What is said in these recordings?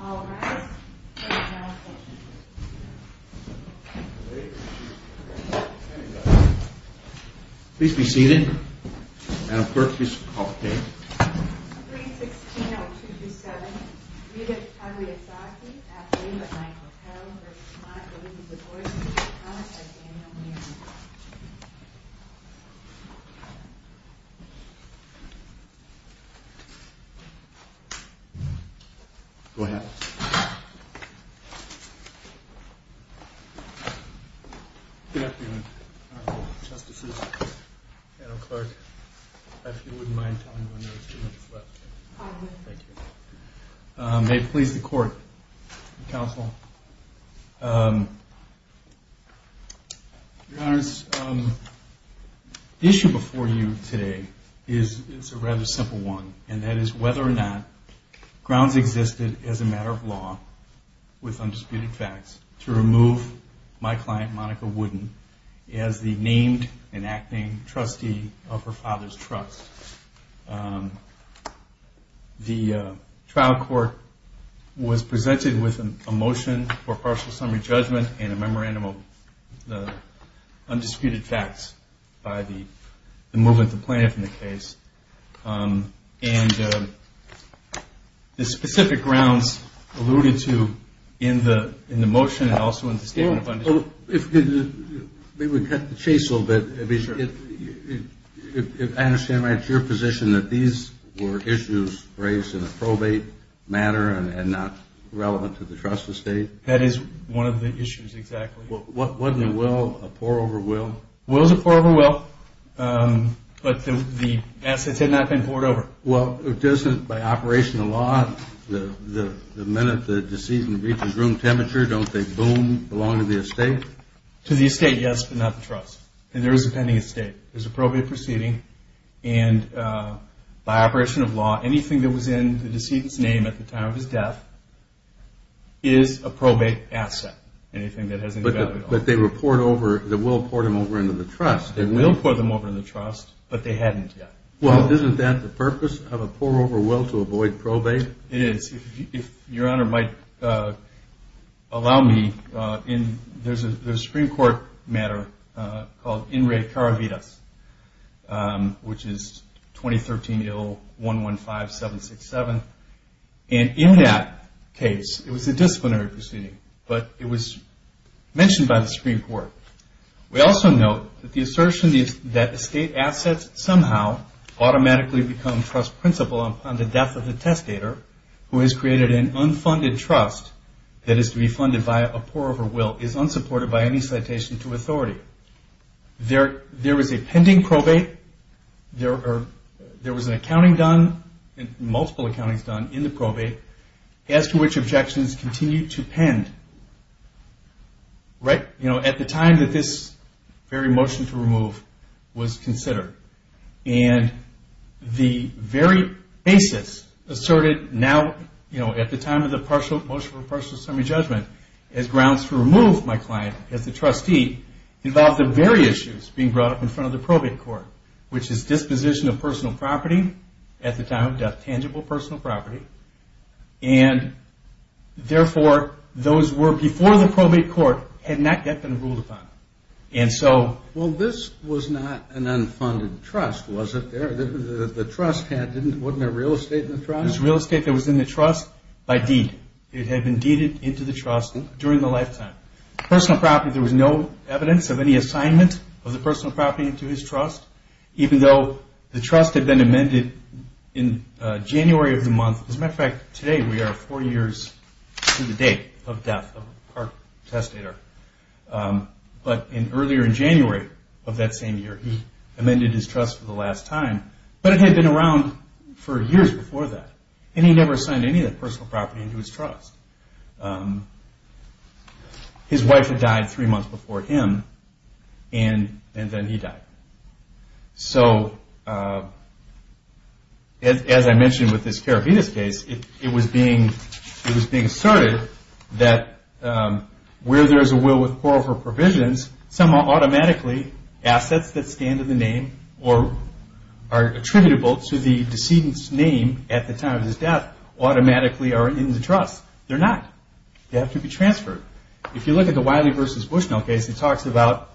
All rise for the General Conference. Please be seated. Madam Clerk, please call the roll. 3-16-0227 Rita Pagliasacchi v. Wooden-Zagorski All rise for the General Conference. Go ahead. Good afternoon, Justices. Madam Clerk, if you wouldn't mind telling me when there is too much left. May it please the Court and Counsel. Your Honor, the issue before you today is a rather simple one, and that is whether or not grounds existed as a matter of law with undisputed facts to remove my client, Monica Wooden, as the named and acting trustee of her father's trust. The trial court was presented with a motion for partial summary judgment and a memorandum of undisputed facts by the movement of plaintiff in the case. And the specific grounds alluded to in the motion and also in the statement of undisputed facts. Maybe we cut the chase a little bit. If I understand right, it's your position that these were issues raised in a probate manner and not relevant to the trust estate? That is one of the issues, exactly. Wasn't it a will, a pour-over will? It was a pour-over will, but the assets had not been poured over. Well, doesn't by operation of law, the minute the decedent reaches room temperature, don't they boom, belong to the estate? To the estate, yes, but not the trust. And there is a pending estate. There's a probate proceeding, and by operation of law, anything that was in the decedent's name at the time of his death is a probate asset, anything that has any value at all. But they will pour them over into the trust. They will pour them over into the trust, but they hadn't yet. Well, isn't that the purpose of a pour-over will, to avoid probate? It is. If Your Honor might allow me, there's a Supreme Court matter called In Re Caravitas, which is 2013-0-115-767, and in that case, it was a disciplinary proceeding, but it was mentioned by the Supreme Court. We also note that the assertion that estate assets somehow automatically become trust principal upon the death of the testator, who has created an unfunded trust that is to be funded by a pour-over will, is unsupported by any citation to authority. There was a pending probate. There was an accounting done, multiple accountings done in the probate, as to which objections continue to pen. At the time that this very motion to remove was considered, and the very basis asserted now at the time of the motion for partial summary judgment as grounds to remove my client as the trustee involved the very issues being brought up in front of the probate court, which is disposition of personal property at the time of death, tangible personal property, and therefore those were before the probate court had not yet been ruled upon. Well, this was not an unfunded trust, was it? The trust had, wasn't there real estate in the trust? There was real estate that was in the trust by deed. It had been deeded into the trust during the lifetime. Personal property, there was no evidence of any assignment of the personal property into his trust, even though the trust had been amended in January of the month. As a matter of fact, today we are four years to the date of death of our testator. But earlier in January of that same year, he amended his trust for the last time, but it had been around for years before that, and he never assigned any of that personal property into his trust. His wife had died three months before him, and then he died. So as I mentioned with this carabiners case, it was being asserted that where there is a will with quarrel for provisions, somehow automatically assets that stand in the name or are attributable to the decedent's name at the time of his death automatically are in the trust. They're not. They have to be transferred. If you look at the Wiley v. Bushnell case, it talks about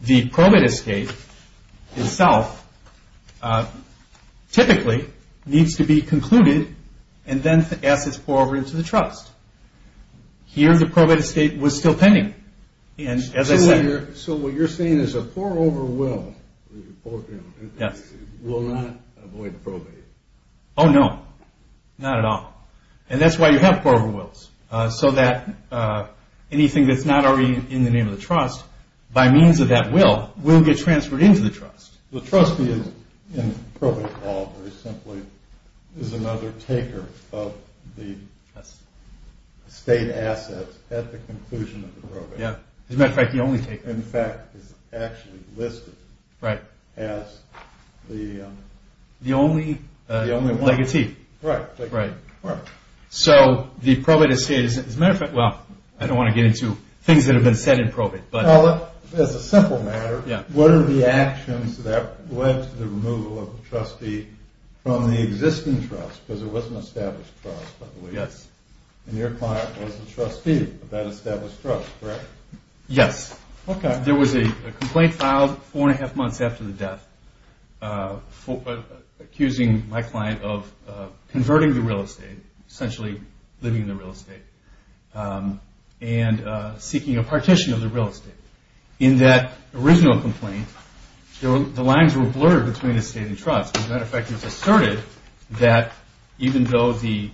the probate escape itself typically needs to be concluded and then assets pour over into the trust. Here the probate escape was still pending. So what you're saying is a pour-over will will not avoid probate. Oh, no. Not at all. And that's why you have pour-over wills, so that anything that's not already in the name of the trust, by means of that will, will get transferred into the trust. The trust is in probate law, is another taker of the state assets at the conclusion of the probate. As a matter of fact, the only taker. In fact, it's actually listed as the… The only legatee. So the probate escape is, as a matter of fact, well, I don't want to get into things that have been said in probate, but… Well, as a simple matter, what are the actions that led to the removal of the trustee from the existing trust? Because it was an established trust, by the way. Yes. And your client was the trustee of that established trust, correct? Yes. Okay. There was a complaint filed four and a half months after the death accusing my client of converting the real estate, essentially living in the real estate, and seeking a partition of the real estate. In that original complaint, the lines were blurred between estate and trust. As a matter of fact, it was asserted that even though the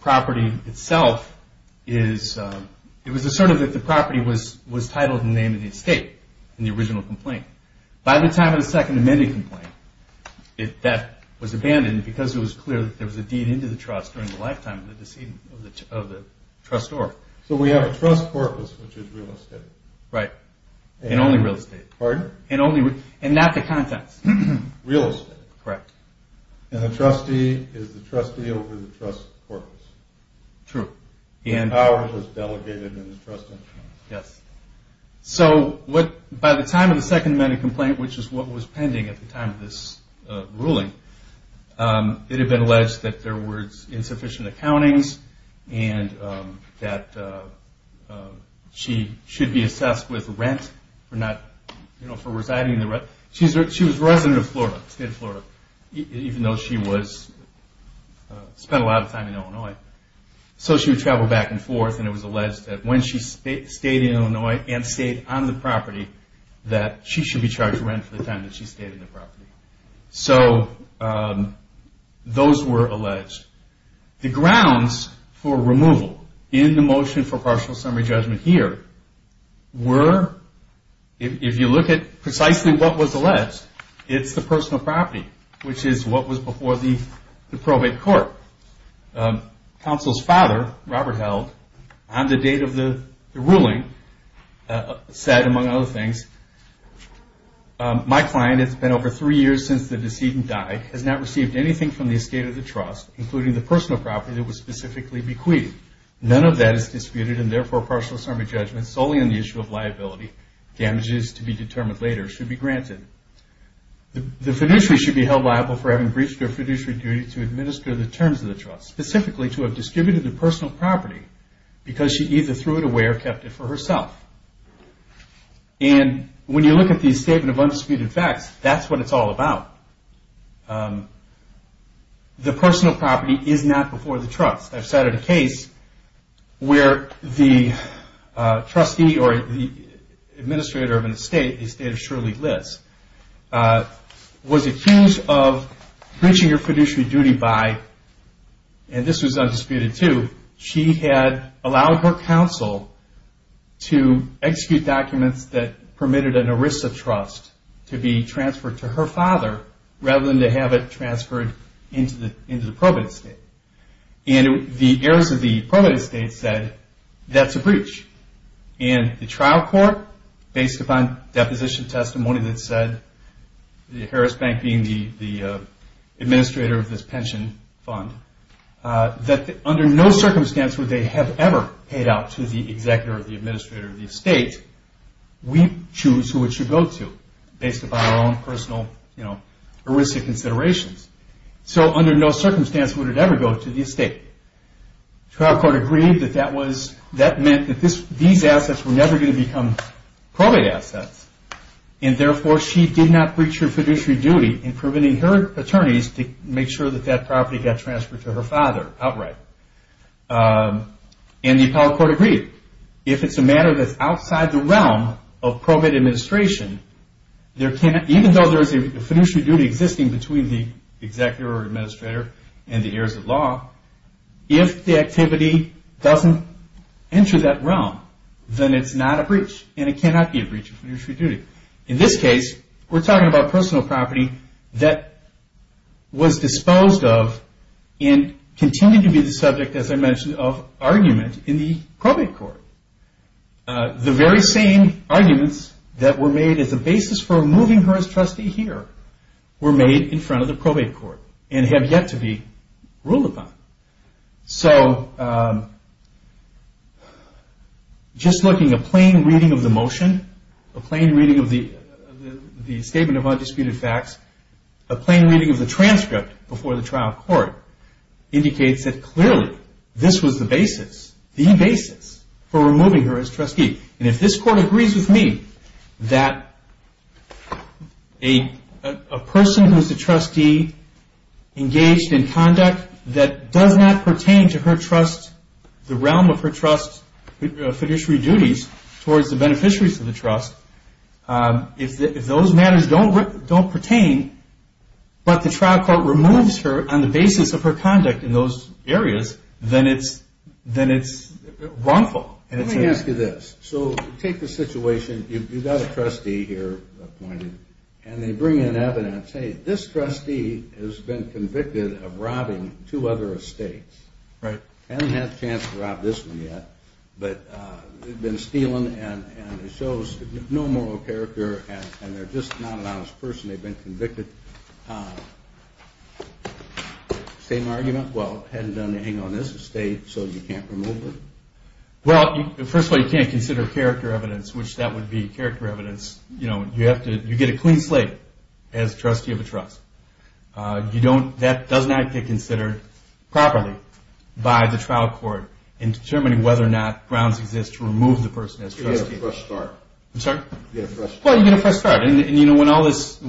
property itself is… It was asserted that the property was titled in the name of the estate in the original complaint. By the time of the Second Amendment complaint, that was abandoned because it was clear that there was a deed into the trust during the lifetime of the trustor. So we have a trust corpus, which is real estate. Right. And only real estate. Pardon? And not the contents. Real estate. Correct. And the trustee is the trustee over the trust corpus. True. The power is delegated in the trust entity. Yes. So by the time of the Second Amendment complaint, which is what was pending at the time of this ruling, it had been alleged that there were insufficient accountings and that she should be assessed with rent for residing in the… She was a resident of Florida, the state of Florida, even though she spent a lot of time in Illinois. So she would travel back and forth, and it was alleged that when she stayed in Illinois and stayed on the property, that she should be charged rent for the time that she stayed on the property. So those were alleged. The grounds for removal in the motion for partial summary judgment here were, if you look at precisely what was alleged, it's the personal property, which is what was before the probate court. Counsel's father, Robert Held, on the date of the ruling, said, among other things, my client has been over three years since the decedent died, has not received anything from the estate of the trust, including the personal property that was specifically bequeathed. None of that is disputed, and therefore partial summary judgment, solely on the issue of liability, damages to be determined later, should be granted. The fiduciary should be held liable for having breached their fiduciary duty to administer the terms of the trust, specifically to have distributed the personal property, because she either threw it away or kept it for herself. And when you look at the statement of undisputed facts, that's what it's all about. The personal property is not before the trust. I've cited a case where the trustee or the administrator of an estate, the estate of Shirley Liss, was accused of breaching her fiduciary duty by, and this was undisputed too, she had allowed her counsel to execute documents that permitted an ERISA trust to be transferred to her father, rather than to have it transferred into the probate estate. And the heirs of the probate estate said, that's a breach. And the trial court, based upon deposition testimony that said, the Harris Bank being the administrator of this pension fund, that under no circumstance would they have ever paid out to the executor or the administrator of the estate. We choose who it should go to, based upon our own personal ERISA considerations. So under no circumstance would it ever go to the estate. Trial court agreed that that meant that these assets were never going to become probate assets, and therefore she did not breach her fiduciary duty in permitting her attorneys to make sure that that property got transferred to her father outright. And the appellate court agreed. If it's a matter that's outside the realm of probate administration, even though there is a fiduciary duty existing between the executor or administrator and the heirs of law, if the activity doesn't enter that realm, then it's not a breach and it cannot be a breach of fiduciary duty. In this case, we're talking about personal property that was disposed of and continued to be the subject, as I mentioned, of argument in the probate court. The very same arguments that were made as a basis for removing her as trustee here were made in front of the probate court and have yet to be ruled upon. So just looking, a plain reading of the motion, a plain reading of the statement of undisputed facts, a plain reading of the transcript before the trial court indicates that clearly this was the basis, the basis, for removing her as trustee. And if this court agrees with me that a person who is a trustee engaged in conduct that does not pertain to her trust, the realm of her trust fiduciary duties towards the beneficiaries of the trust, if those matters don't pertain, but the trial court removes her on the basis of her conduct in those areas, then it's wrongful. Let me ask you this. So take the situation, you've got a trustee here appointed, and they bring in evidence. Let's say this trustee has been convicted of robbing two other estates. Right. Hasn't had a chance to rob this one yet, but they've been stealing and it shows no moral character and they're just not an honest person. They've been convicted. Same argument? Well, hadn't done anything on this estate, so you can't remove her? Well, first of all, you can't consider character evidence, which that would be character evidence. You get a clean slate as trustee of a trust. That does not get considered properly by the trial court in determining whether or not grounds exist to remove the person as trustee. You get a fresh start. I'm sorry? You get a fresh start. Well, you get a fresh start. And, you know, when all this –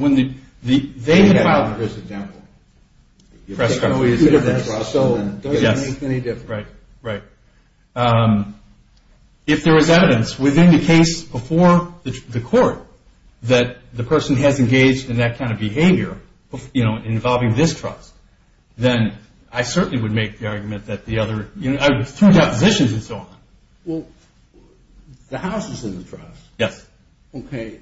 They had all this example. You get a fresh start. So it doesn't make any difference. Right, right. If there is evidence within the case before the court that the person has engaged in that kind of behavior involving this trust, then I certainly would make the argument that the other – through depositions and so on. Well, the house is in the trust. Yes. Okay.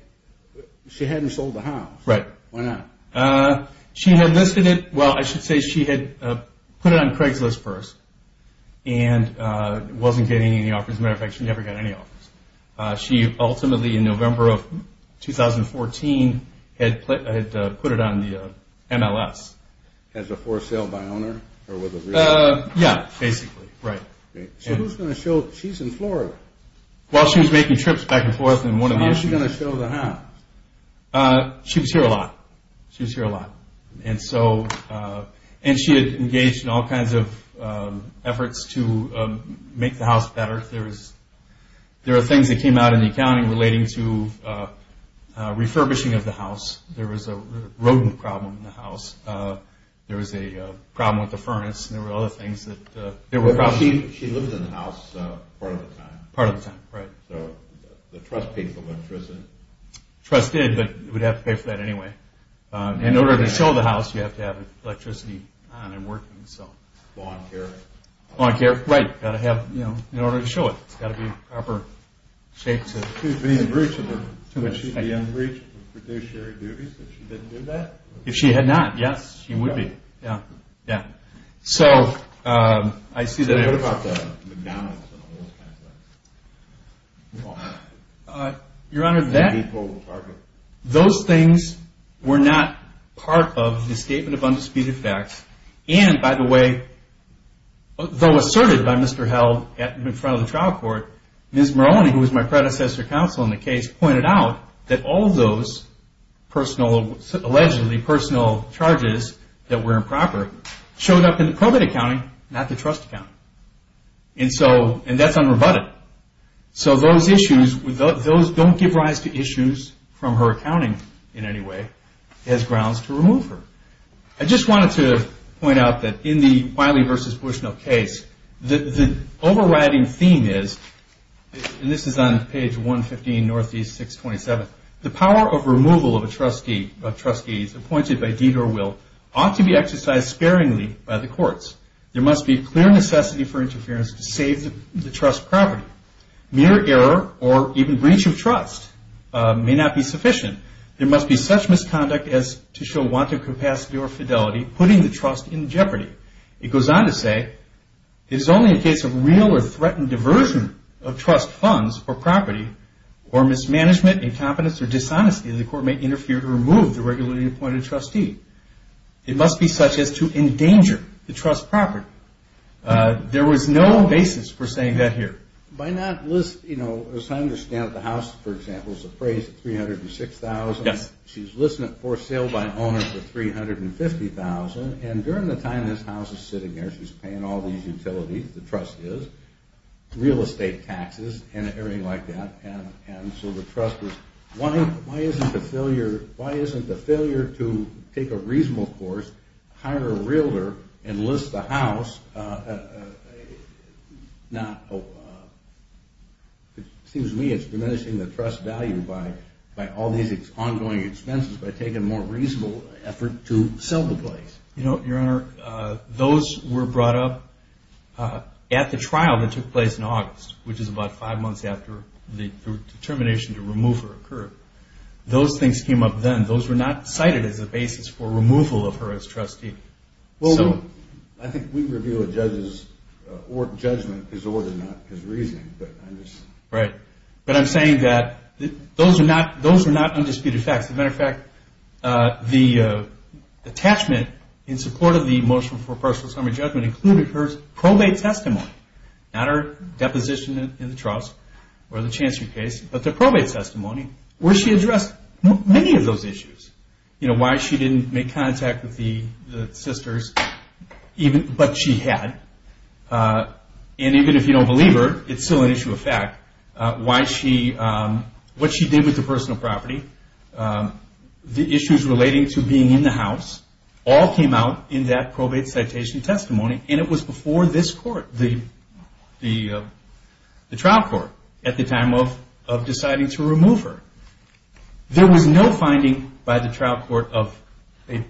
She hadn't sold the house. Right. Why not? She had listed it – Well, I should say she had put it on Craigslist first and wasn't getting any offers. As a matter of fact, she never got any offers. She ultimately, in November of 2014, had put it on the MLS. As a for sale by owner? Yeah, basically. Right. So who's going to show – she's in Florida. Well, she was making trips back and forth in one of the – How's she going to show the house? She was here a lot. She was here a lot. And so – and she had engaged in all kinds of efforts to make the house better. There was – there were things that came out in the accounting relating to refurbishing of the house. There was a rodent problem in the house. There was a problem with the furnace. There were other things that – there were problems. She lived in the house part of the time. Part of the time, right. So the trust paid for electricity. The trust did, but it would have to pay for that anyway. In order to show the house, you have to have electricity on and working. So – Law and care. Law and care, right. You've got to have – in order to show it, it's got to be in proper shape to – She'd be in breach of the – Too much. She'd be in breach of fiduciary duties if she didn't do that? If she had not, yes, she would be. Yeah. Yeah. So I see that – So what about the McDonald's and all those kinds of things? Your Honor, that – The meat bowl department. Those things were not part of the Statement of Undisputed Facts. And, by the way, though asserted by Mr. Held in front of the trial court, Ms. Moroney, who was my predecessor counsel in the case, pointed out that all those personal – allegedly personal charges that were improper showed up in the probate accounting, not the trust accounting. And so – and that's unrebutted. So those issues – those don't give rise to issues from her accounting in any way as grounds to remove her. I just wanted to point out that in the Wiley v. Bushnell case, the overriding theme is – and this is on page 115, Northeast 627 – the power of removal of a trustee appointed by deed or will ought to be exercised sparingly by the courts. There must be clear necessity for interference to save the trust property. Mere error or even breach of trust may not be sufficient. There must be such misconduct as to show wanton capacity or fidelity, putting the trust in jeopardy. It goes on to say, it is only in case of real or threatened diversion of trust funds or property or mismanagement, incompetence, or dishonesty that the court may interfere to remove the regularly appointed trustee. It must be such as to endanger the trust property. There was no basis for saying that here. By not – as I understand it, the house, for example, is appraised at $306,000. Yes. She's listed it for sale by an owner for $350,000. And during the time this house is sitting there, she's paying all these utilities, the trust is, real estate taxes and everything like that. And so the trust was – why isn't the failure to take a reasonable course, hire a realtor, enlist the house, not – it seems to me it's diminishing the trust value by all these ongoing expenses by taking a more reasonable effort to sell the place. Your Honor, those were brought up at the trial that took place in August, which is about five months after the determination to remove her occurred. Those things came up then. Those were not cited as a basis for removal of her as trustee. Well, I think we review a judge's judgment disorder, not his reasoning, but I'm just – Right. But I'm saying that those are not undisputed facts. As a matter of fact, the attachment in support of the motion for personal assembly judgment included her probate testimony. Not her deposition in the trust or the chancellor's case, but the probate testimony where she addressed many of those issues. You know, why she didn't make contact with the sisters, but she had. And even if you don't believe her, it's still an issue of fact. Why she – what she did with the personal property, the issues relating to being in the house, all came out in that probate citation testimony, and it was before this court, the trial court, at the time of deciding to remove her. There was no finding by the trial court of an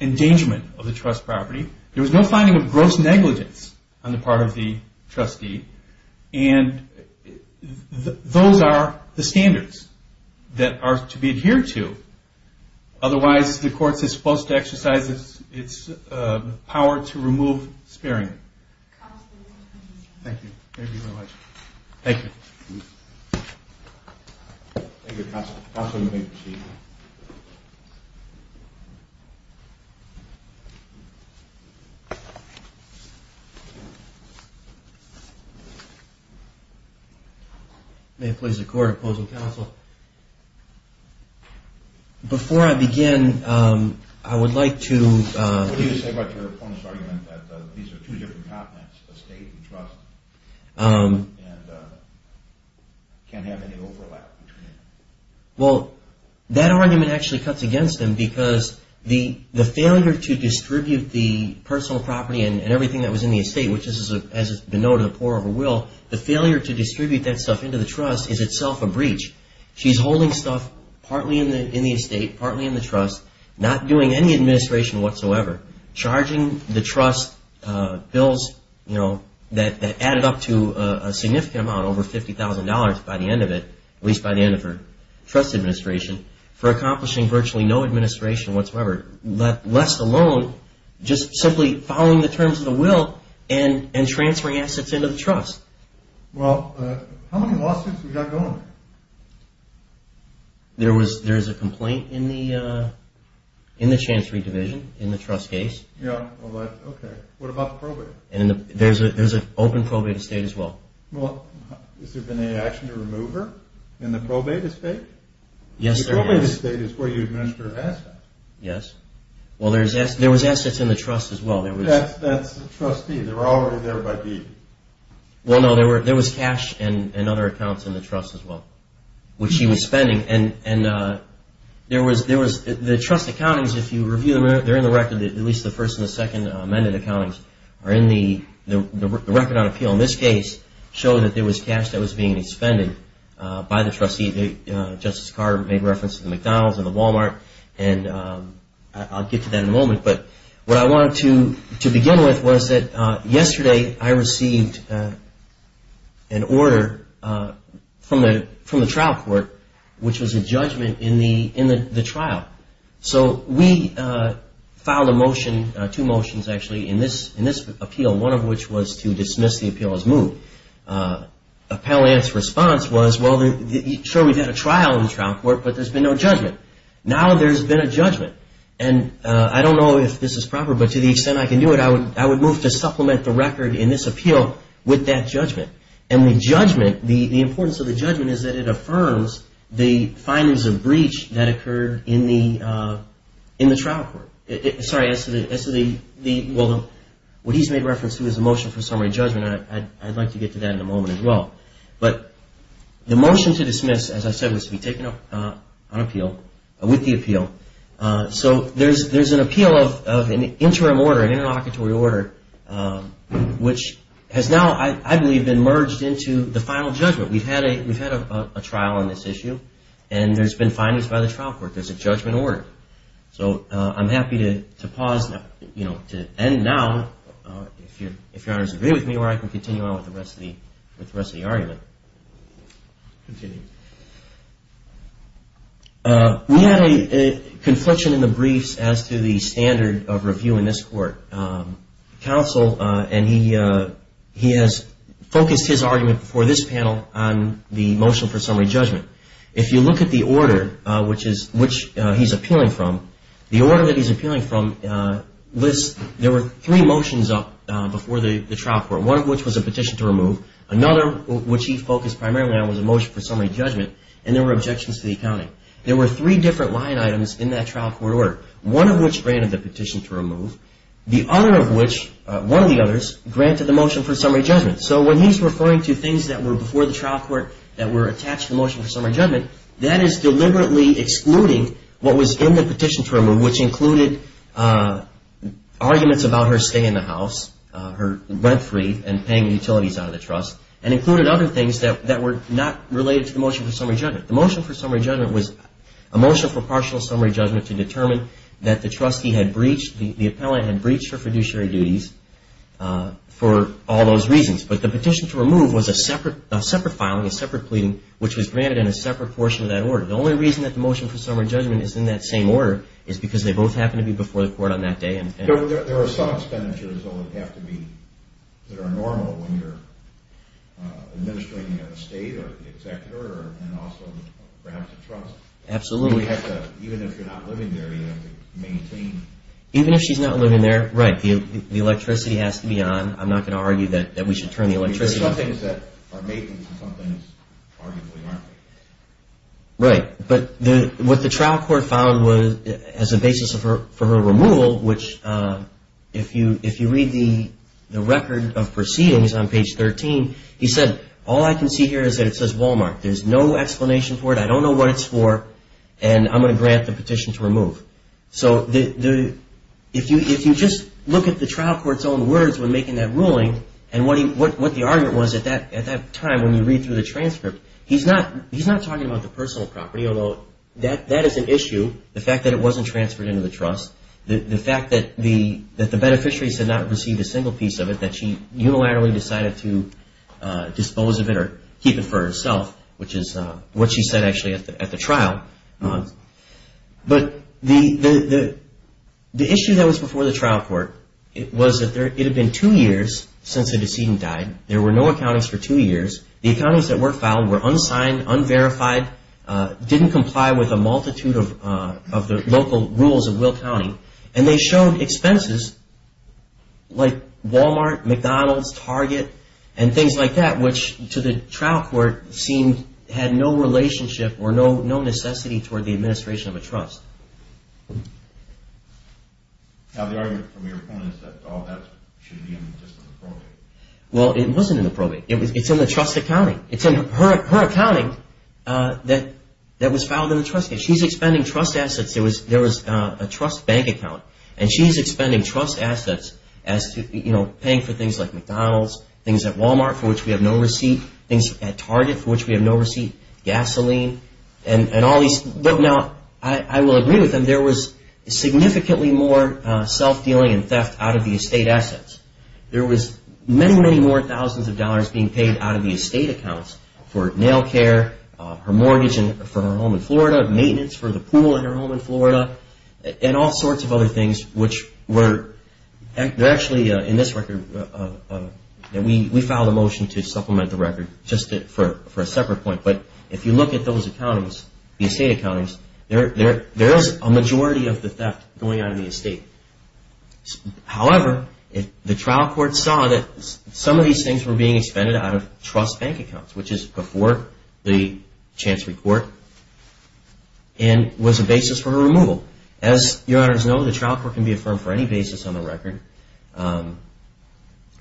endangerment of the trust property. There was no finding of gross negligence on the part of the trustee. And those are the standards that are to be adhered to. Otherwise, the court is supposed to exercise its power to remove Spearing. Thank you. Thank you very much. Thank you. Thank you, counsel. Counsel, you may proceed. May it please the court, opposing counsel. Counsel, before I begin, I would like to – What do you say about your opponent's argument that these are two different continents, estate and trust, and can't have any overlap between them? Well, that argument actually cuts against him because the failure to distribute the personal property and everything that was in the estate, which is, as it's been noted, a poor of a will, the failure to distribute that stuff into the trust is itself a breach. She's holding stuff partly in the estate, partly in the trust, not doing any administration whatsoever, charging the trust bills that added up to a significant amount, over $50,000 by the end of it, at least by the end of her trust administration, for accomplishing virtually no administration whatsoever, lest alone just simply following the terms of the will and transferring assets into the trust. Well, how many lawsuits have we got going? There's a complaint in the Chancery Division in the trust case. Yeah. Okay. What about the probate? There's an open probate estate as well. Well, has there been any action to remove her in the probate estate? Yes, there has. The probate estate is where you administer assets. Yes. Well, there was assets in the trust as well. That's the trustee. They were already there by deed. Well, no, there was cash and other accounts in the trust as well, which she was spending. And the trust accountings, if you review them, they're in the record, at least the first and the second amended accountings are in the record on appeal. So in this case, it showed that there was cash that was being expended by the trustee. Justice Carter made reference to the McDonald's and the Walmart, and I'll get to that in a moment. But what I wanted to begin with was that yesterday I received an order from the trial court, which was a judgment in the trial. So we filed a motion, two motions actually, in this appeal, one of which was to dismiss the appeal as moved. Appellant's response was, well, sure, we've had a trial in the trial court, but there's been no judgment. Now there's been a judgment. And I don't know if this is proper, but to the extent I can do it, I would move to supplement the record in this appeal with that judgment. And the judgment, the importance of the judgment is that it affirms the findings of breach that occurred in the trial court. Sorry, as to the, well, what he's made reference to is a motion for summary judgment, and I'd like to get to that in a moment as well. But the motion to dismiss, as I said, was to be taken up on appeal, with the appeal. So there's an appeal of an interim order, an interlocutory order, which has now, I believe, been merged into the final judgment. We've had a trial on this issue, and there's been findings by the trial court. There's a judgment order. So I'm happy to pause, you know, to end now, if Your Honor's agree with me, or I can continue on with the rest of the argument. We had a confliction in the briefs as to the standard of review in this court. Counsel, and he has focused his argument before this panel on the motion for summary judgment. If you look at the order which he's appealing from, the order that he's appealing from lists, there were three motions up before the trial court, one of which was a petition to remove, another, which he focused primarily on, was a motion for summary judgment, and there were objections to the accounting. There were three different line items in that trial court order, one of which granted the petition to remove, the other of which, one of the others, granted the motion for summary judgment. So when he's referring to things that were before the trial court that were attached to the motion for summary judgment, that is deliberately excluding what was in the petition to remove, which included arguments about her staying in the house, her rent-free and paying utilities out of the trust, and included other things that were not related to the motion for summary judgment. The motion for summary judgment was a motion for partial summary judgment to determine that the trustee had breached, the appellant had breached her fiduciary duties for all those reasons, but the petition to remove was a separate filing, a separate pleading, which was granted in a separate portion of that order. The only reason that the motion for summary judgment is in that same order is because they both happened to be before the court on that day. There are some expenditures, though, that have to be, that are normal when you're administering a state or the executor and also perhaps a trust. Absolutely. Even if you're not living there, you have to maintain... Even if she's not living there, right, the electricity has to be on. I'm not going to argue that we should turn the electricity on. There are some things that are making for some things, arguably, aren't they? Right. But what the trial court found as a basis for her removal, which if you read the record of proceedings on page 13, he said, all I can see here is that it says Walmart. There's no explanation for it. I don't know what it's for, and I'm going to grant the petition to remove. So if you just look at the trial court's own words when making that ruling and what the argument was at that time when you read through the transcript, he's not talking about the personal property, although that is an issue, the fact that it wasn't transferred into the trust, the fact that the beneficiaries had not received a single piece of it, the fact that she unilaterally decided to dispose of it or keep it for herself, which is what she said actually at the trial. But the issue that was before the trial court was that it had been two years since the decedent died. There were no accountants for two years. The accountants that were filed were unsigned, unverified, didn't comply with a multitude of the local rules of Will County, and they showed expenses like Walmart, McDonald's, Target, and things like that, which to the trial court had no relationship or no necessity toward the administration of a trust. Now the argument from your point is that all that should be in the probate. Well, it wasn't in the probate. It's in the trust accounting. It's in her accounting that was filed in the trust case. She's expending trust assets. There was a trust bank account, and she's expending trust assets as to, you know, paying for things like McDonald's, things at Walmart for which we have no receipt, things at Target for which we have no receipt, gasoline, and all these. Now I will agree with them. There was significantly more self-dealing and theft out of the estate assets. There was many, many more thousands of dollars being paid out of the estate accounts for nail care, her mortgage for her home in Florida, maintenance for the pool in her home in Florida, and all sorts of other things which were actually in this record. We filed a motion to supplement the record just for a separate point, but if you look at those accountings, the estate accountings, there is a majority of the theft going on in the estate. However, the trial court saw that some of these things were being expended out of trust bank accounts, which is before the chance report, and was a basis for her removal. As your honors know, the trial court can be affirmed for any basis on the record.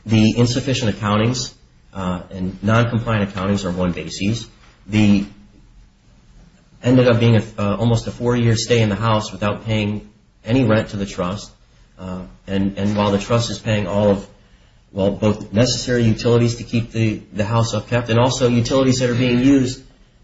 The insufficient accountings and noncompliant accountings are one basis. The ended up being almost a four-year stay in the house without paying any rent to the trust, and while the trust is paying all of, well, both necessary utilities to keep the house upkept and also utilities that are being used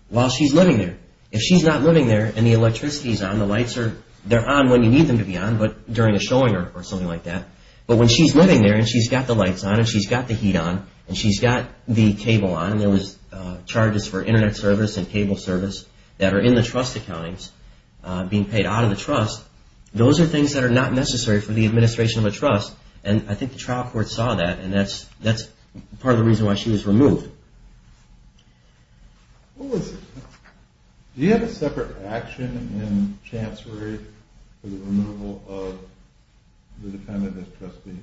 while she's living there. If she's not living there and the electricity is on, the lights are on when you need them to be on, but during a showing or something like that, but when she's living there and she's got the lights on and she's got the heat on and she's got the cable on and there was charges for internet service and cable service that are in the trust accountings being paid out of the trust, those are things that are not necessary for the administration of a trust, and I think the trial court saw that, and that's part of the reason why she was removed. Do you have a separate action in chancery for the removal of the defendant as trustee?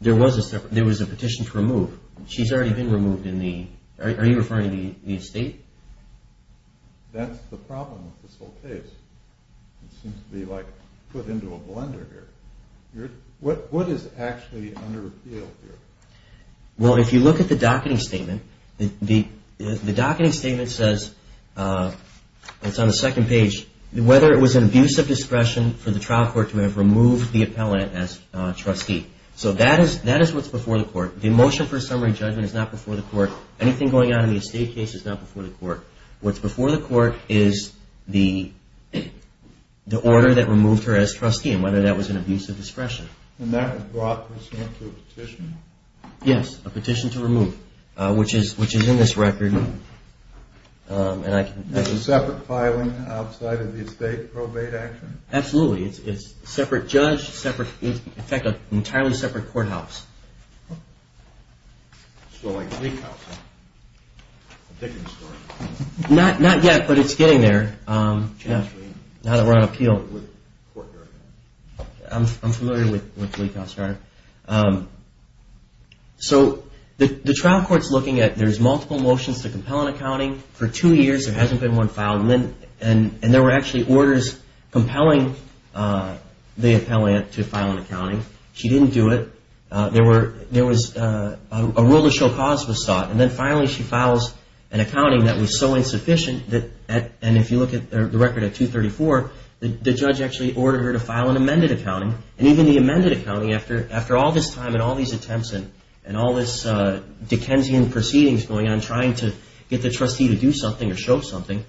There was a petition to remove. She's already been removed in the, are you referring to the estate? That's the problem with this whole case. It seems to be like put into a blender here. What is actually under appeal here? Well, if you look at the docketing statement, the docketing statement says, it's on the second page, whether it was an abuse of discretion for the trial court to have removed the appellant as trustee. So that is what's before the court. The motion for a summary judgment is not before the court. Anything going on in the estate case is not before the court. What's before the court is the order that removed her as trustee and whether that was an abuse of discretion. And that brought this into a petition? Yes, a petition to remove, which is in this record. Is it separate filing outside of the estate probate action? Absolutely. It's separate judge, separate, in fact, an entirely separate courthouse. So like Gleek House? Not yet, but it's getting there. I'm familiar with Gleek House. So the trial court's looking at, there's multiple motions to compel an accounting. For two years, there hasn't been one filed. And there were actually orders compelling the appellant to file an accounting. She didn't do it. There was a rule to show cause was sought. And then finally she files an accounting that was so insufficient, and if you look at the record at 234, the judge actually ordered her to file an amended accounting. And even the amended accounting, after all this time and all these attempts and all this Dickensian proceedings going on trying to get the trustee to do something or show something,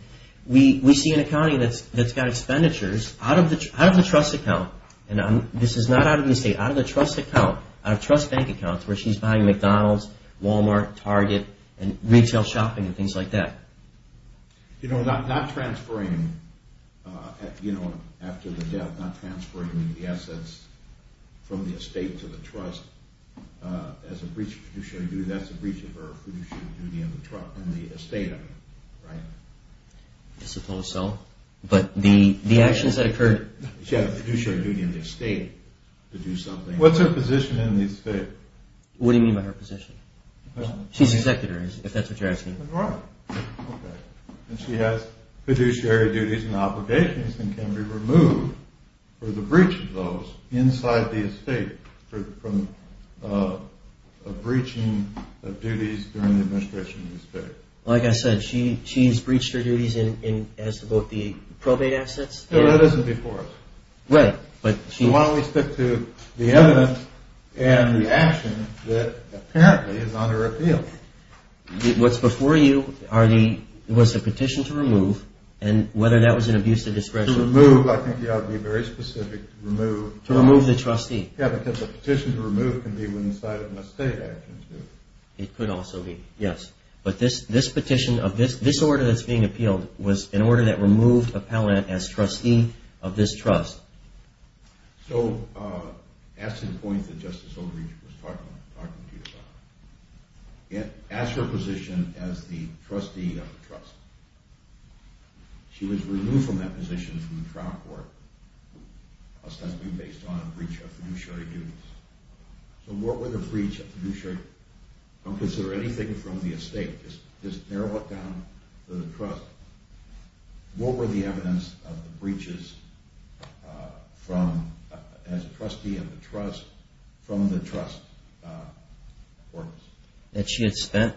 we see an accounting that's got expenditures out of the trust account. And this is not out of the estate, out of the trust account, out of trust bank accounts where she's buying McDonald's, Walmart, Target, and retail shopping and things like that. You know, not transferring, you know, after the death, not transferring the assets from the estate to the trust as a breach of fiduciary duty, that's a breach of her fiduciary duty in the estate, right? I suppose so. But the actions that occurred... She had a fiduciary duty in the estate to do something. What's her position in the estate? What do you mean by her position? She's executor, if that's what you're asking. Right. Okay. And she has fiduciary duties and obligations and can be removed for the breach of those inside the estate from a breaching of duties during the administration of the estate. Like I said, she's breached her duties as to both the probate assets... No, that isn't before us. Right, but... So why don't we stick to the evidence and the action that apparently is on her appeal? What's before you was the petition to remove, and whether that was an abuse of discretion... To remove, I think, yeah, I'd be very specific, to remove... To remove the trustee. Yeah, because a petition to remove can be when inside an estate actions do. It could also be, yes. But this petition of this, this order that's being appealed was an order that removed appellant as trustee of this trust. So, as to the point that Justice Oakley was talking to you about, ask her position as the trustee of the trust. She was removed from that position from the trial court, ostensibly based on a breach of fiduciary duties. So what were the breach of fiduciary duties? Don't consider anything from the estate. Just narrow it down to the trust. What were the evidence of the breaches from, as a trustee of the trust, from the trust? That she had spent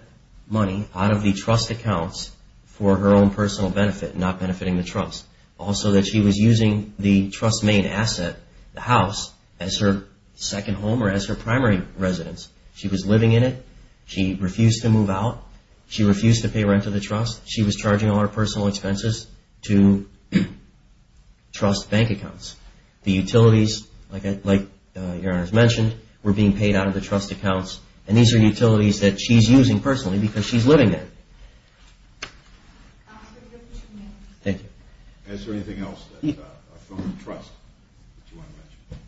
money out of the trust accounts for her own personal benefit, not benefiting the trust. Also that she was using the trust's main asset, the house, as her second home or as her primary residence. She was living in it. She refused to move out. She refused to pay rent to the trust. She was charging all her personal expenses to trust bank accounts. The utilities, like Your Honor has mentioned, were being paid out of the trust accounts. And these are utilities that she's using personally because she's living there. Thank you. Is there anything else that's from the trust that you want to mention?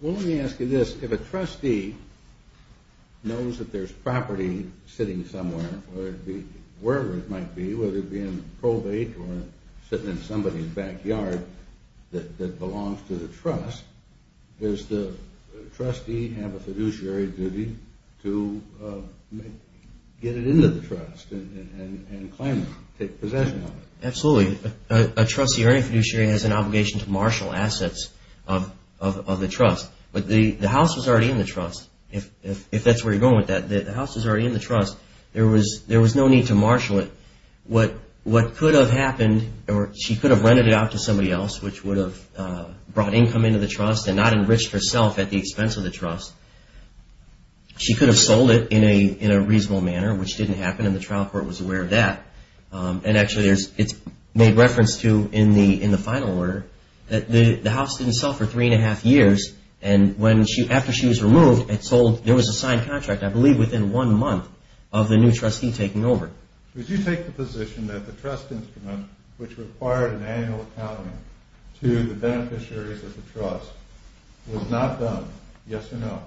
Well, let me ask you this. If a trustee knows that there's property sitting somewhere, wherever it might be, whether it be in probate or sitting in somebody's backyard that belongs to the trust, does the trustee have a fiduciary duty to get it into the trust and claim it, take possession of it? Absolutely. A trustee or any fiduciary has an obligation to marshal assets of the trust. But the house was already in the trust. If that's where you're going with that, the house was already in the trust. There was no need to marshal it. What could have happened, or she could have rented it out to somebody else, which would have brought income into the trust and not enriched herself at the expense of the trust. She could have sold it in a reasonable manner, which didn't happen, and the trial court was aware of that. And actually, it's made reference to in the final order that the house didn't sell for three and a half years. And after she was removed, it sold. There was a signed contract, I believe, within one month of the new trustee taking over. Would you take the position that the trust instrument, which required an annual accounting to the beneficiaries of the trust, was not done? Yes or no?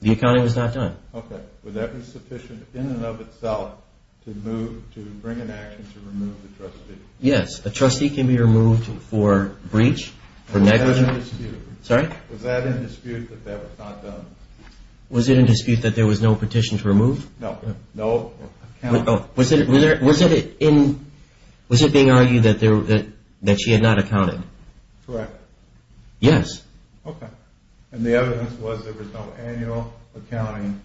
The accounting was not done. Okay. Would that be sufficient in and of itself to bring an action to remove the trustee? Yes. A trustee can be removed for breach, for negligence. Was that in dispute that that was not done? Was it in dispute that there was no petition to remove? No. No accounting. Was it being argued that she had not accounted? Correct. Yes. Okay. And the evidence was there was no annual accounting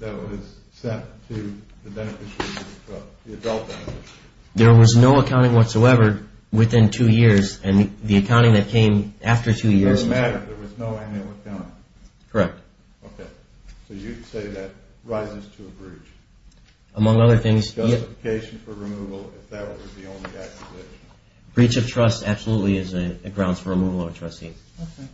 that was sent to the beneficiaries of the trust, the adult beneficiaries. There was no accounting whatsoever within two years, and the accounting that came after two years… It doesn't matter. There was no annual accounting. Correct. Okay. So you say that rises to a breach. Among other things… Justification for removal, if that was the only accusation. Breach of trust absolutely is a grounds for removal of a trustee. Okay.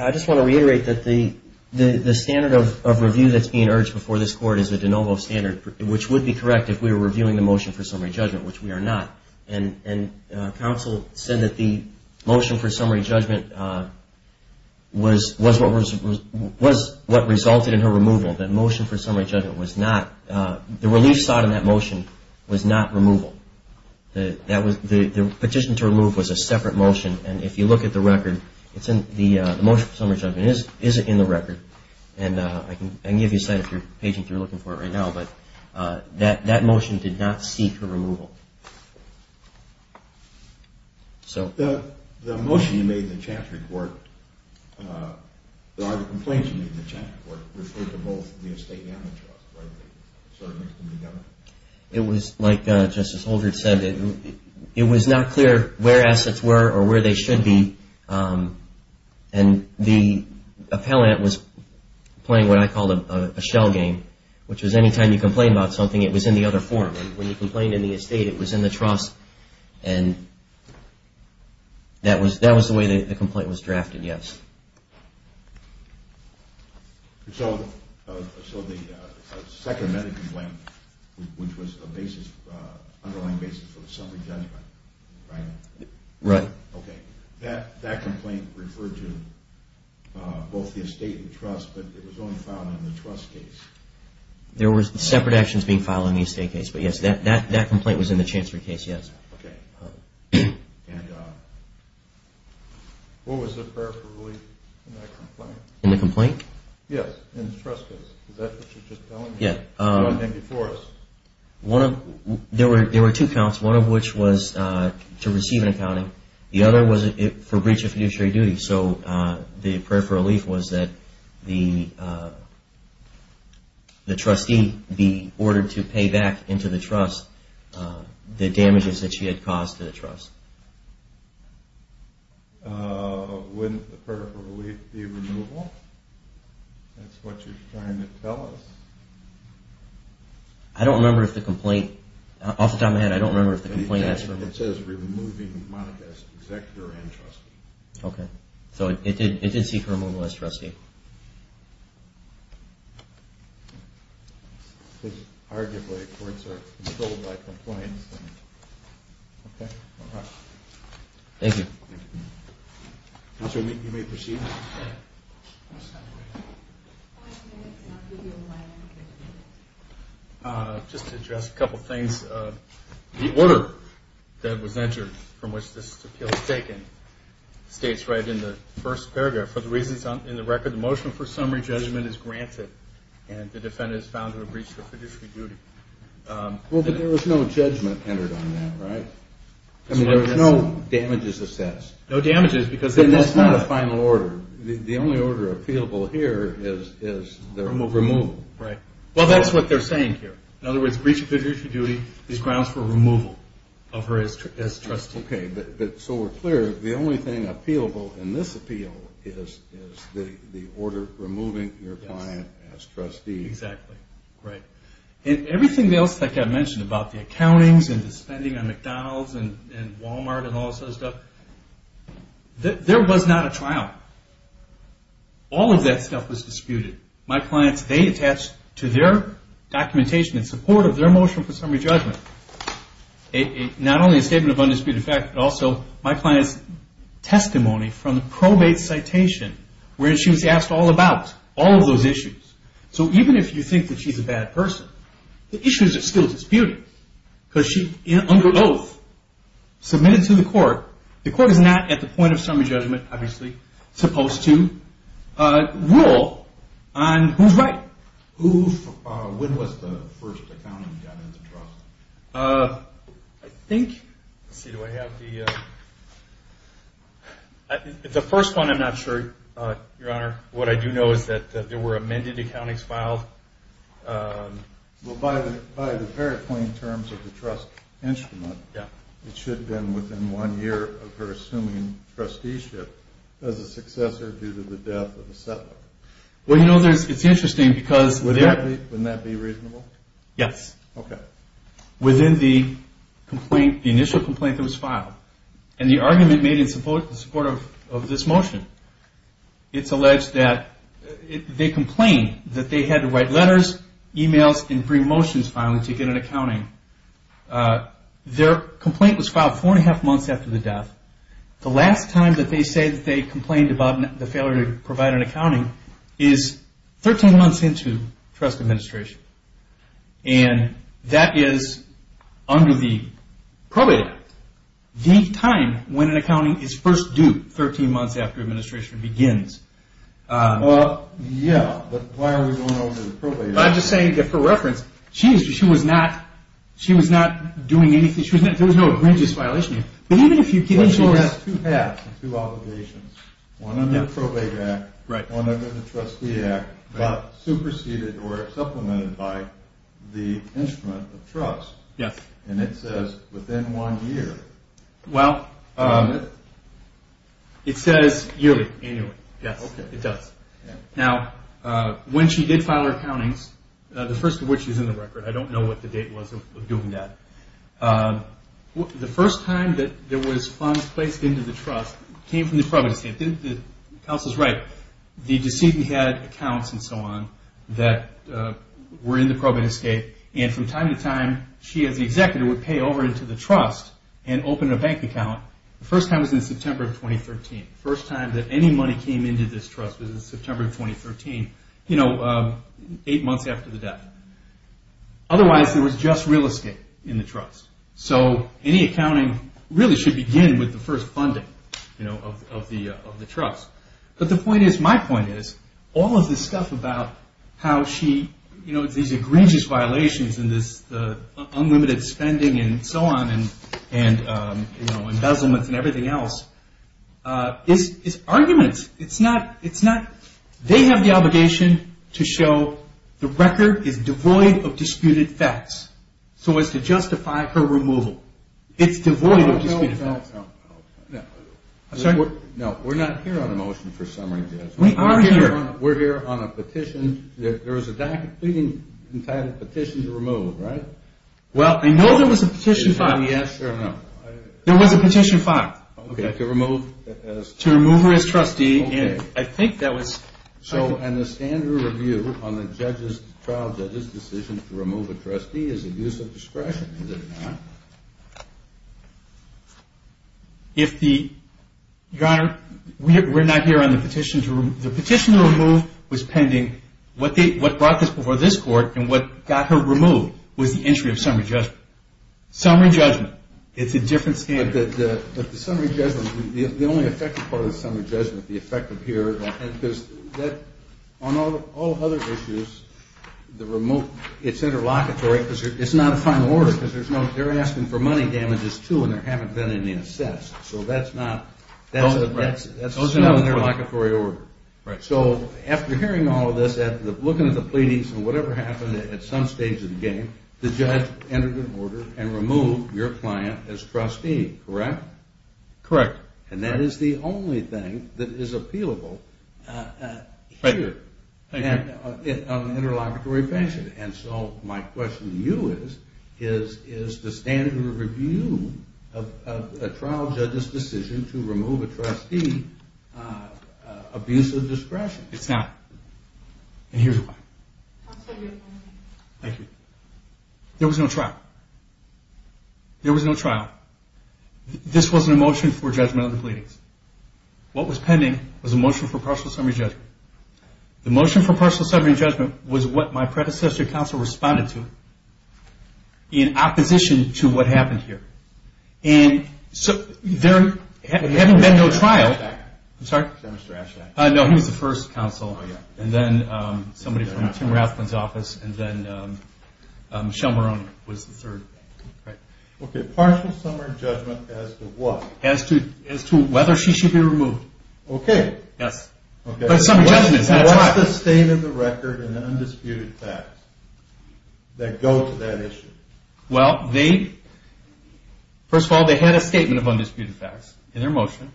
I just want to reiterate that the standard of review that's being urged before this Court is the de novo standard, which would be correct if we were reviewing the motion for summary judgment, which we are not. And counsel said that the motion for summary judgment was what resulted in her removal. The motion for summary judgment was not – the relief sought in that motion was not removal. The petition to remove was a separate motion. And if you look at the record, the motion for summary judgment isn't in the record. And I can give you a site if you're paging through looking for it right now, but that motion did not seek her removal. So… The motion you made in the chapter report, or the complaint you made in the chapter report, referred to both the estate and the trust, right? The servants and the government? It was, like Justice Holdren said, it was not clear where assets were or where they should be. And the appellant was playing what I call a shell game, which is any time you complain about something, it was in the other form. When you complained in the estate, it was in the trust. And that was the way the complaint was drafted, yes. So the second amendment complaint, which was an underlying basis for the summary judgment, right? Right. Okay. That complaint referred to both the estate and the trust, but it was only filed in the trust case. There were separate actions being filed in the estate case, but yes, that complaint was in the chancery case, yes. Okay. And what was the prayer for relief in that complaint? In the complaint? Yes, in the trust case. Is that what you're just telling me? Yeah. What came before us? There were two counts, one of which was to receive an accounting. The other was for breach of fiduciary duty. So the prayer for relief was that the trustee be ordered to pay back into the trust the damages that she had caused to the trust. Wouldn't the prayer for relief be removal? That's what you're trying to tell us? I don't remember if the complaint – off the top of my head, I don't remember if the complaint has – It says removing monetized executor and trustee. Okay. So it did seek removal as trustee. Arguably, courts are controlled by complaints. Okay. All right. Thank you. Thank you. Counsel, you may proceed. Just to address a couple things. The order that was entered from which this appeal was taken states right in the first paragraph, for the reasons in the record, the motion for summary judgment is granted, and the defendant is found to have breached her fiduciary duty. Well, but there was no judgment entered on that, right? I mean, there was no damages assessed. No damages, because – And that's not a final order. The only order appealable here is the removal. Right. Well, that's what they're saying here. In other words, breach of fiduciary duty is grounds for removal of her as trustee. Okay. But so we're clear, the only thing appealable in this appeal is the order removing your client as trustee. Exactly. Right. And everything else that got mentioned about the accountings and the spending on McDonald's and Walmart and all this other stuff, there was not a trial. All of that stuff was disputed. My clients, they attached to their documentation in support of their motion for summary judgment, not only a statement of undisputed fact, but also my client's testimony from the probate citation, where she was asked all about all of those issues. So even if you think that she's a bad person, the issues are still disputed, because she, under oath, submitted to the court. The court is not, at the point of summary judgment, obviously, supposed to rule on who's right. Who, when was the first accounting that got into trust? I think, let's see, do I have the, the first one I'm not sure, Your Honor. What I do know is that there were amended accountings filed. Well, by the very plain terms of the trust instrument, it should have been within one year of her assuming trusteeship as a successor due to the death of a settler. Well, you know, it's interesting because- Wouldn't that be reasonable? Yes. Okay. Within the complaint, the initial complaint that was filed, and the argument made in support of this motion, it's alleged that they complained that they had to write letters, emails, and bring motions finally to get an accounting. Their complaint was filed four and a half months after the death. The last time that they say that they complained about the failure to provide an accounting is 13 months into trust administration, and that is under the probate act, the time when an accounting is first due 13 months after administration begins. Well, yeah, but why are we going over the probate act? I'm just saying that for reference, she was not doing anything, there was no egregious violation here. But even if you can ensure- Well, she has two halves, two obligations. One under the probate act, one under the trustee act, but superseded or supplemented by the instrument of trust. Yes. And it says within one year. Well, it says yearly, annually. Yes, it does. Now, when she did file her accountings, the first of which is in the record, I don't know what the date was of doing that. The first time that there was funds placed into the trust came from the probate estate. The counsel's right. The decision had accounts and so on that were in the probate estate, and from time to time she as the executive would pay over into the trust and open a bank account. The first time was in September of 2013. The first time that any money came into this trust was in September of 2013, eight months after the death. Otherwise, there was just real estate in the trust. So any accounting really should begin with the first funding of the trust. But the point is, my point is, all of this stuff about how she, you know, these egregious violations and this unlimited spending and so on and, you know, embezzlement and everything else is arguments. It's not they have the obligation to show the record is devoid of disputed facts so as to justify her removal. It's devoid of disputed facts. No, we're not here on a motion for summary. We are here. We're here on a petition. There was a document entitled Petition to Remove, right? Well, I know there was a petition filed. Yes or no? There was a petition filed. Okay, to remove as? To remove her as trustee. Okay. I think that was. So in the standard review on the trial judge's decision to remove a trustee is it use of discretion? Is it not? Your Honor, we're not here on the petition to remove. The petition to remove was pending. What brought this before this court and what got her removed was the entry of summary judgment. Summary judgment. It's a different standard. But the summary judgment, the only effective part of the summary judgment, the effective here, because on all other issues, the remote, it's interlocutory because it's not a final order because they're asking for money damages, too, and there haven't been any assessed. So that's not an interlocutory order. So after hearing all of this, looking at the pleadings and whatever happened at some stage of the game, the judge entered an order and removed your client as trustee, correct? Correct. And that is the only thing that is appealable here in an interlocutory fashion. And so my question to you is, is the standard of review of a trial judge's decision to remove a trustee abuse of discretion? It's not. And here's why. Thank you. There was no trial. There was no trial. This wasn't a motion for judgment of the pleadings. What was pending was a motion for partial summary judgment. The motion for partial summary judgment was what my predecessor counsel responded to in opposition to what happened here. And so there hadn't been no trial. I'm sorry? No, he was the first counsel, and then somebody from Tim Rathlin's office, and then Michelle Marrone was the third. Okay, partial summary judgment as to what? As to whether she should be removed. Okay. Yes. Partial summary judgment. What's the state of the record in the undisputed facts that go to that issue? Well, first of all, they had a statement of undisputed facts in their motion,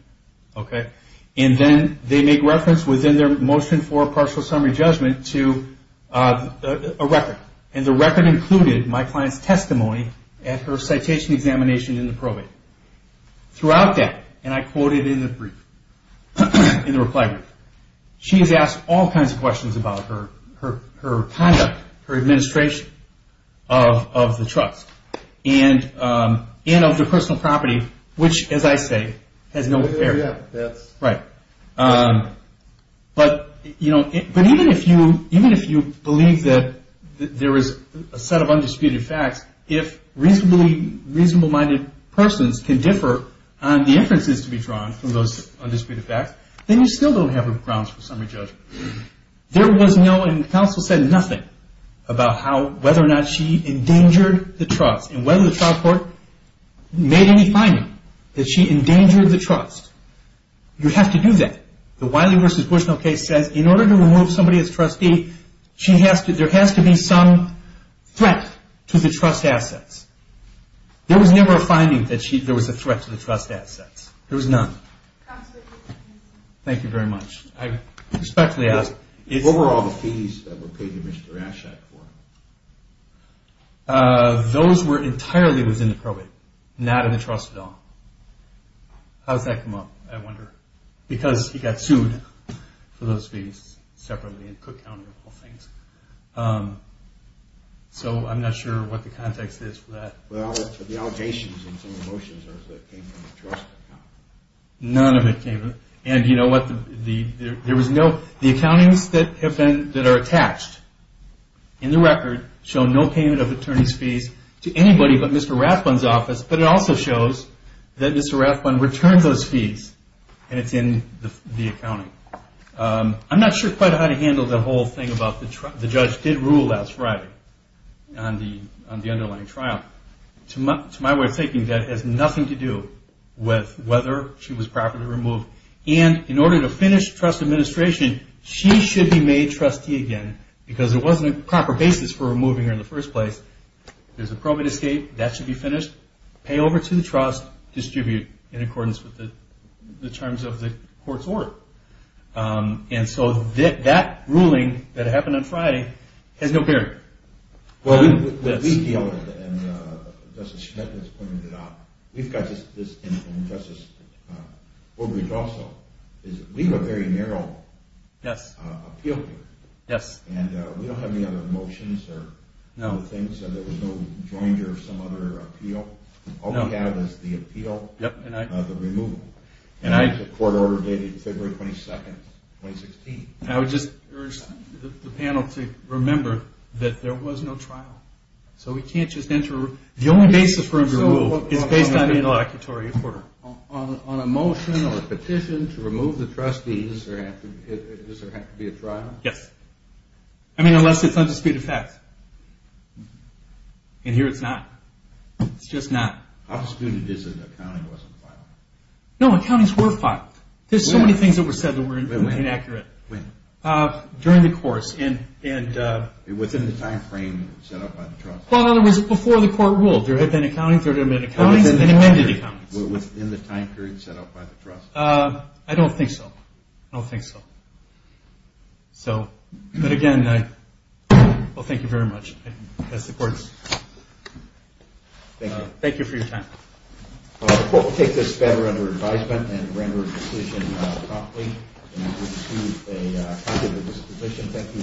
okay? And then they make reference within their motion for partial summary judgment to a record. And the record included my client's testimony at her citation examination in the probate. Throughout that, and I quoted in the reply brief, she has asked all kinds of questions about her conduct, her administration of the trust, and of the personal property, which, as I say, has no bearing. Yes. Right. But even if you believe that there is a set of undisputed facts, if reasonable-minded persons can differ on the inferences to be drawn from those undisputed facts, then you still don't have a grounds for summary judgment. There was no, and counsel said nothing, about whether or not she endangered the trust and whether the trial court made any finding that she endangered the trust. You have to do that. The Wiley v. Bushnell case says in order to remove somebody as trustee, there has to be some threat to the trust assets. There was never a finding that there was a threat to the trust assets. There was none. Absolutely. Thank you very much. I respectfully ask. What were all the fees that were paid to Mr. Aschak for? Those were entirely within the probate, not in the trust at all. How does that come up, I wonder? Because he got sued for those fees separately in Cook County, of all things. So I'm not sure what the context is for that. Well, it's for the allocations and some of the motions that came from the trust account. None of it came. And you know what, there was no, the accountings that are attached in the record show no payment of attorney's fees to anybody but Mr. Rathbun's office, but it also shows that Mr. Rathbun returns those fees and it's in the accounting. I'm not sure quite how to handle the whole thing about the judge did rule last Friday on the underlying trial. To my way of thinking, that has nothing to do with whether she was properly removed. And in order to finish trust administration, she should be made trustee again because there wasn't a proper basis for removing her in the first place. There's a probate escape. That should be finished. Pay over to the trust. Distribute in accordance with the terms of the court's order. And so that ruling that happened on Friday has no bearing. Well, what we feel, and Justice Schneider has pointed it out, we've got this, and Justice Woodbridge also, is we have a very narrow appeal here. Yes. And we don't have any other motions or things. There was no joint or some other appeal. All we have is the appeal of the removal. And the court order dated February 22, 2016. I would just urge the panel to remember that there was no trial. So we can't just enter a rule. The only basis for a rule is based on the interlocutory order. On a motion or a petition to remove the trustees, does there have to be a trial? Yes. I mean, unless it's undisputed fact. And here it's not. It's just not. How disputed is it that accounting wasn't filed? No, accountings were filed. There's so many things that were said that were inaccurate. When? During the course. Within the time frame set up by the trust? Well, in other words, before the court ruled. There had been accountings, there had been accountings, and then amended accountings. Within the time period set up by the trust? I don't think so. So, but again, I thank you very much. That's the court's. Thank you. Thank you for your time. The court will take this matter under advisement and render a decision promptly. And we will pursue a counter dispute petition. Thank you for your patience. Thank you. Thank you. Thank you. Thank you. Thank you. Thank you. Thank you.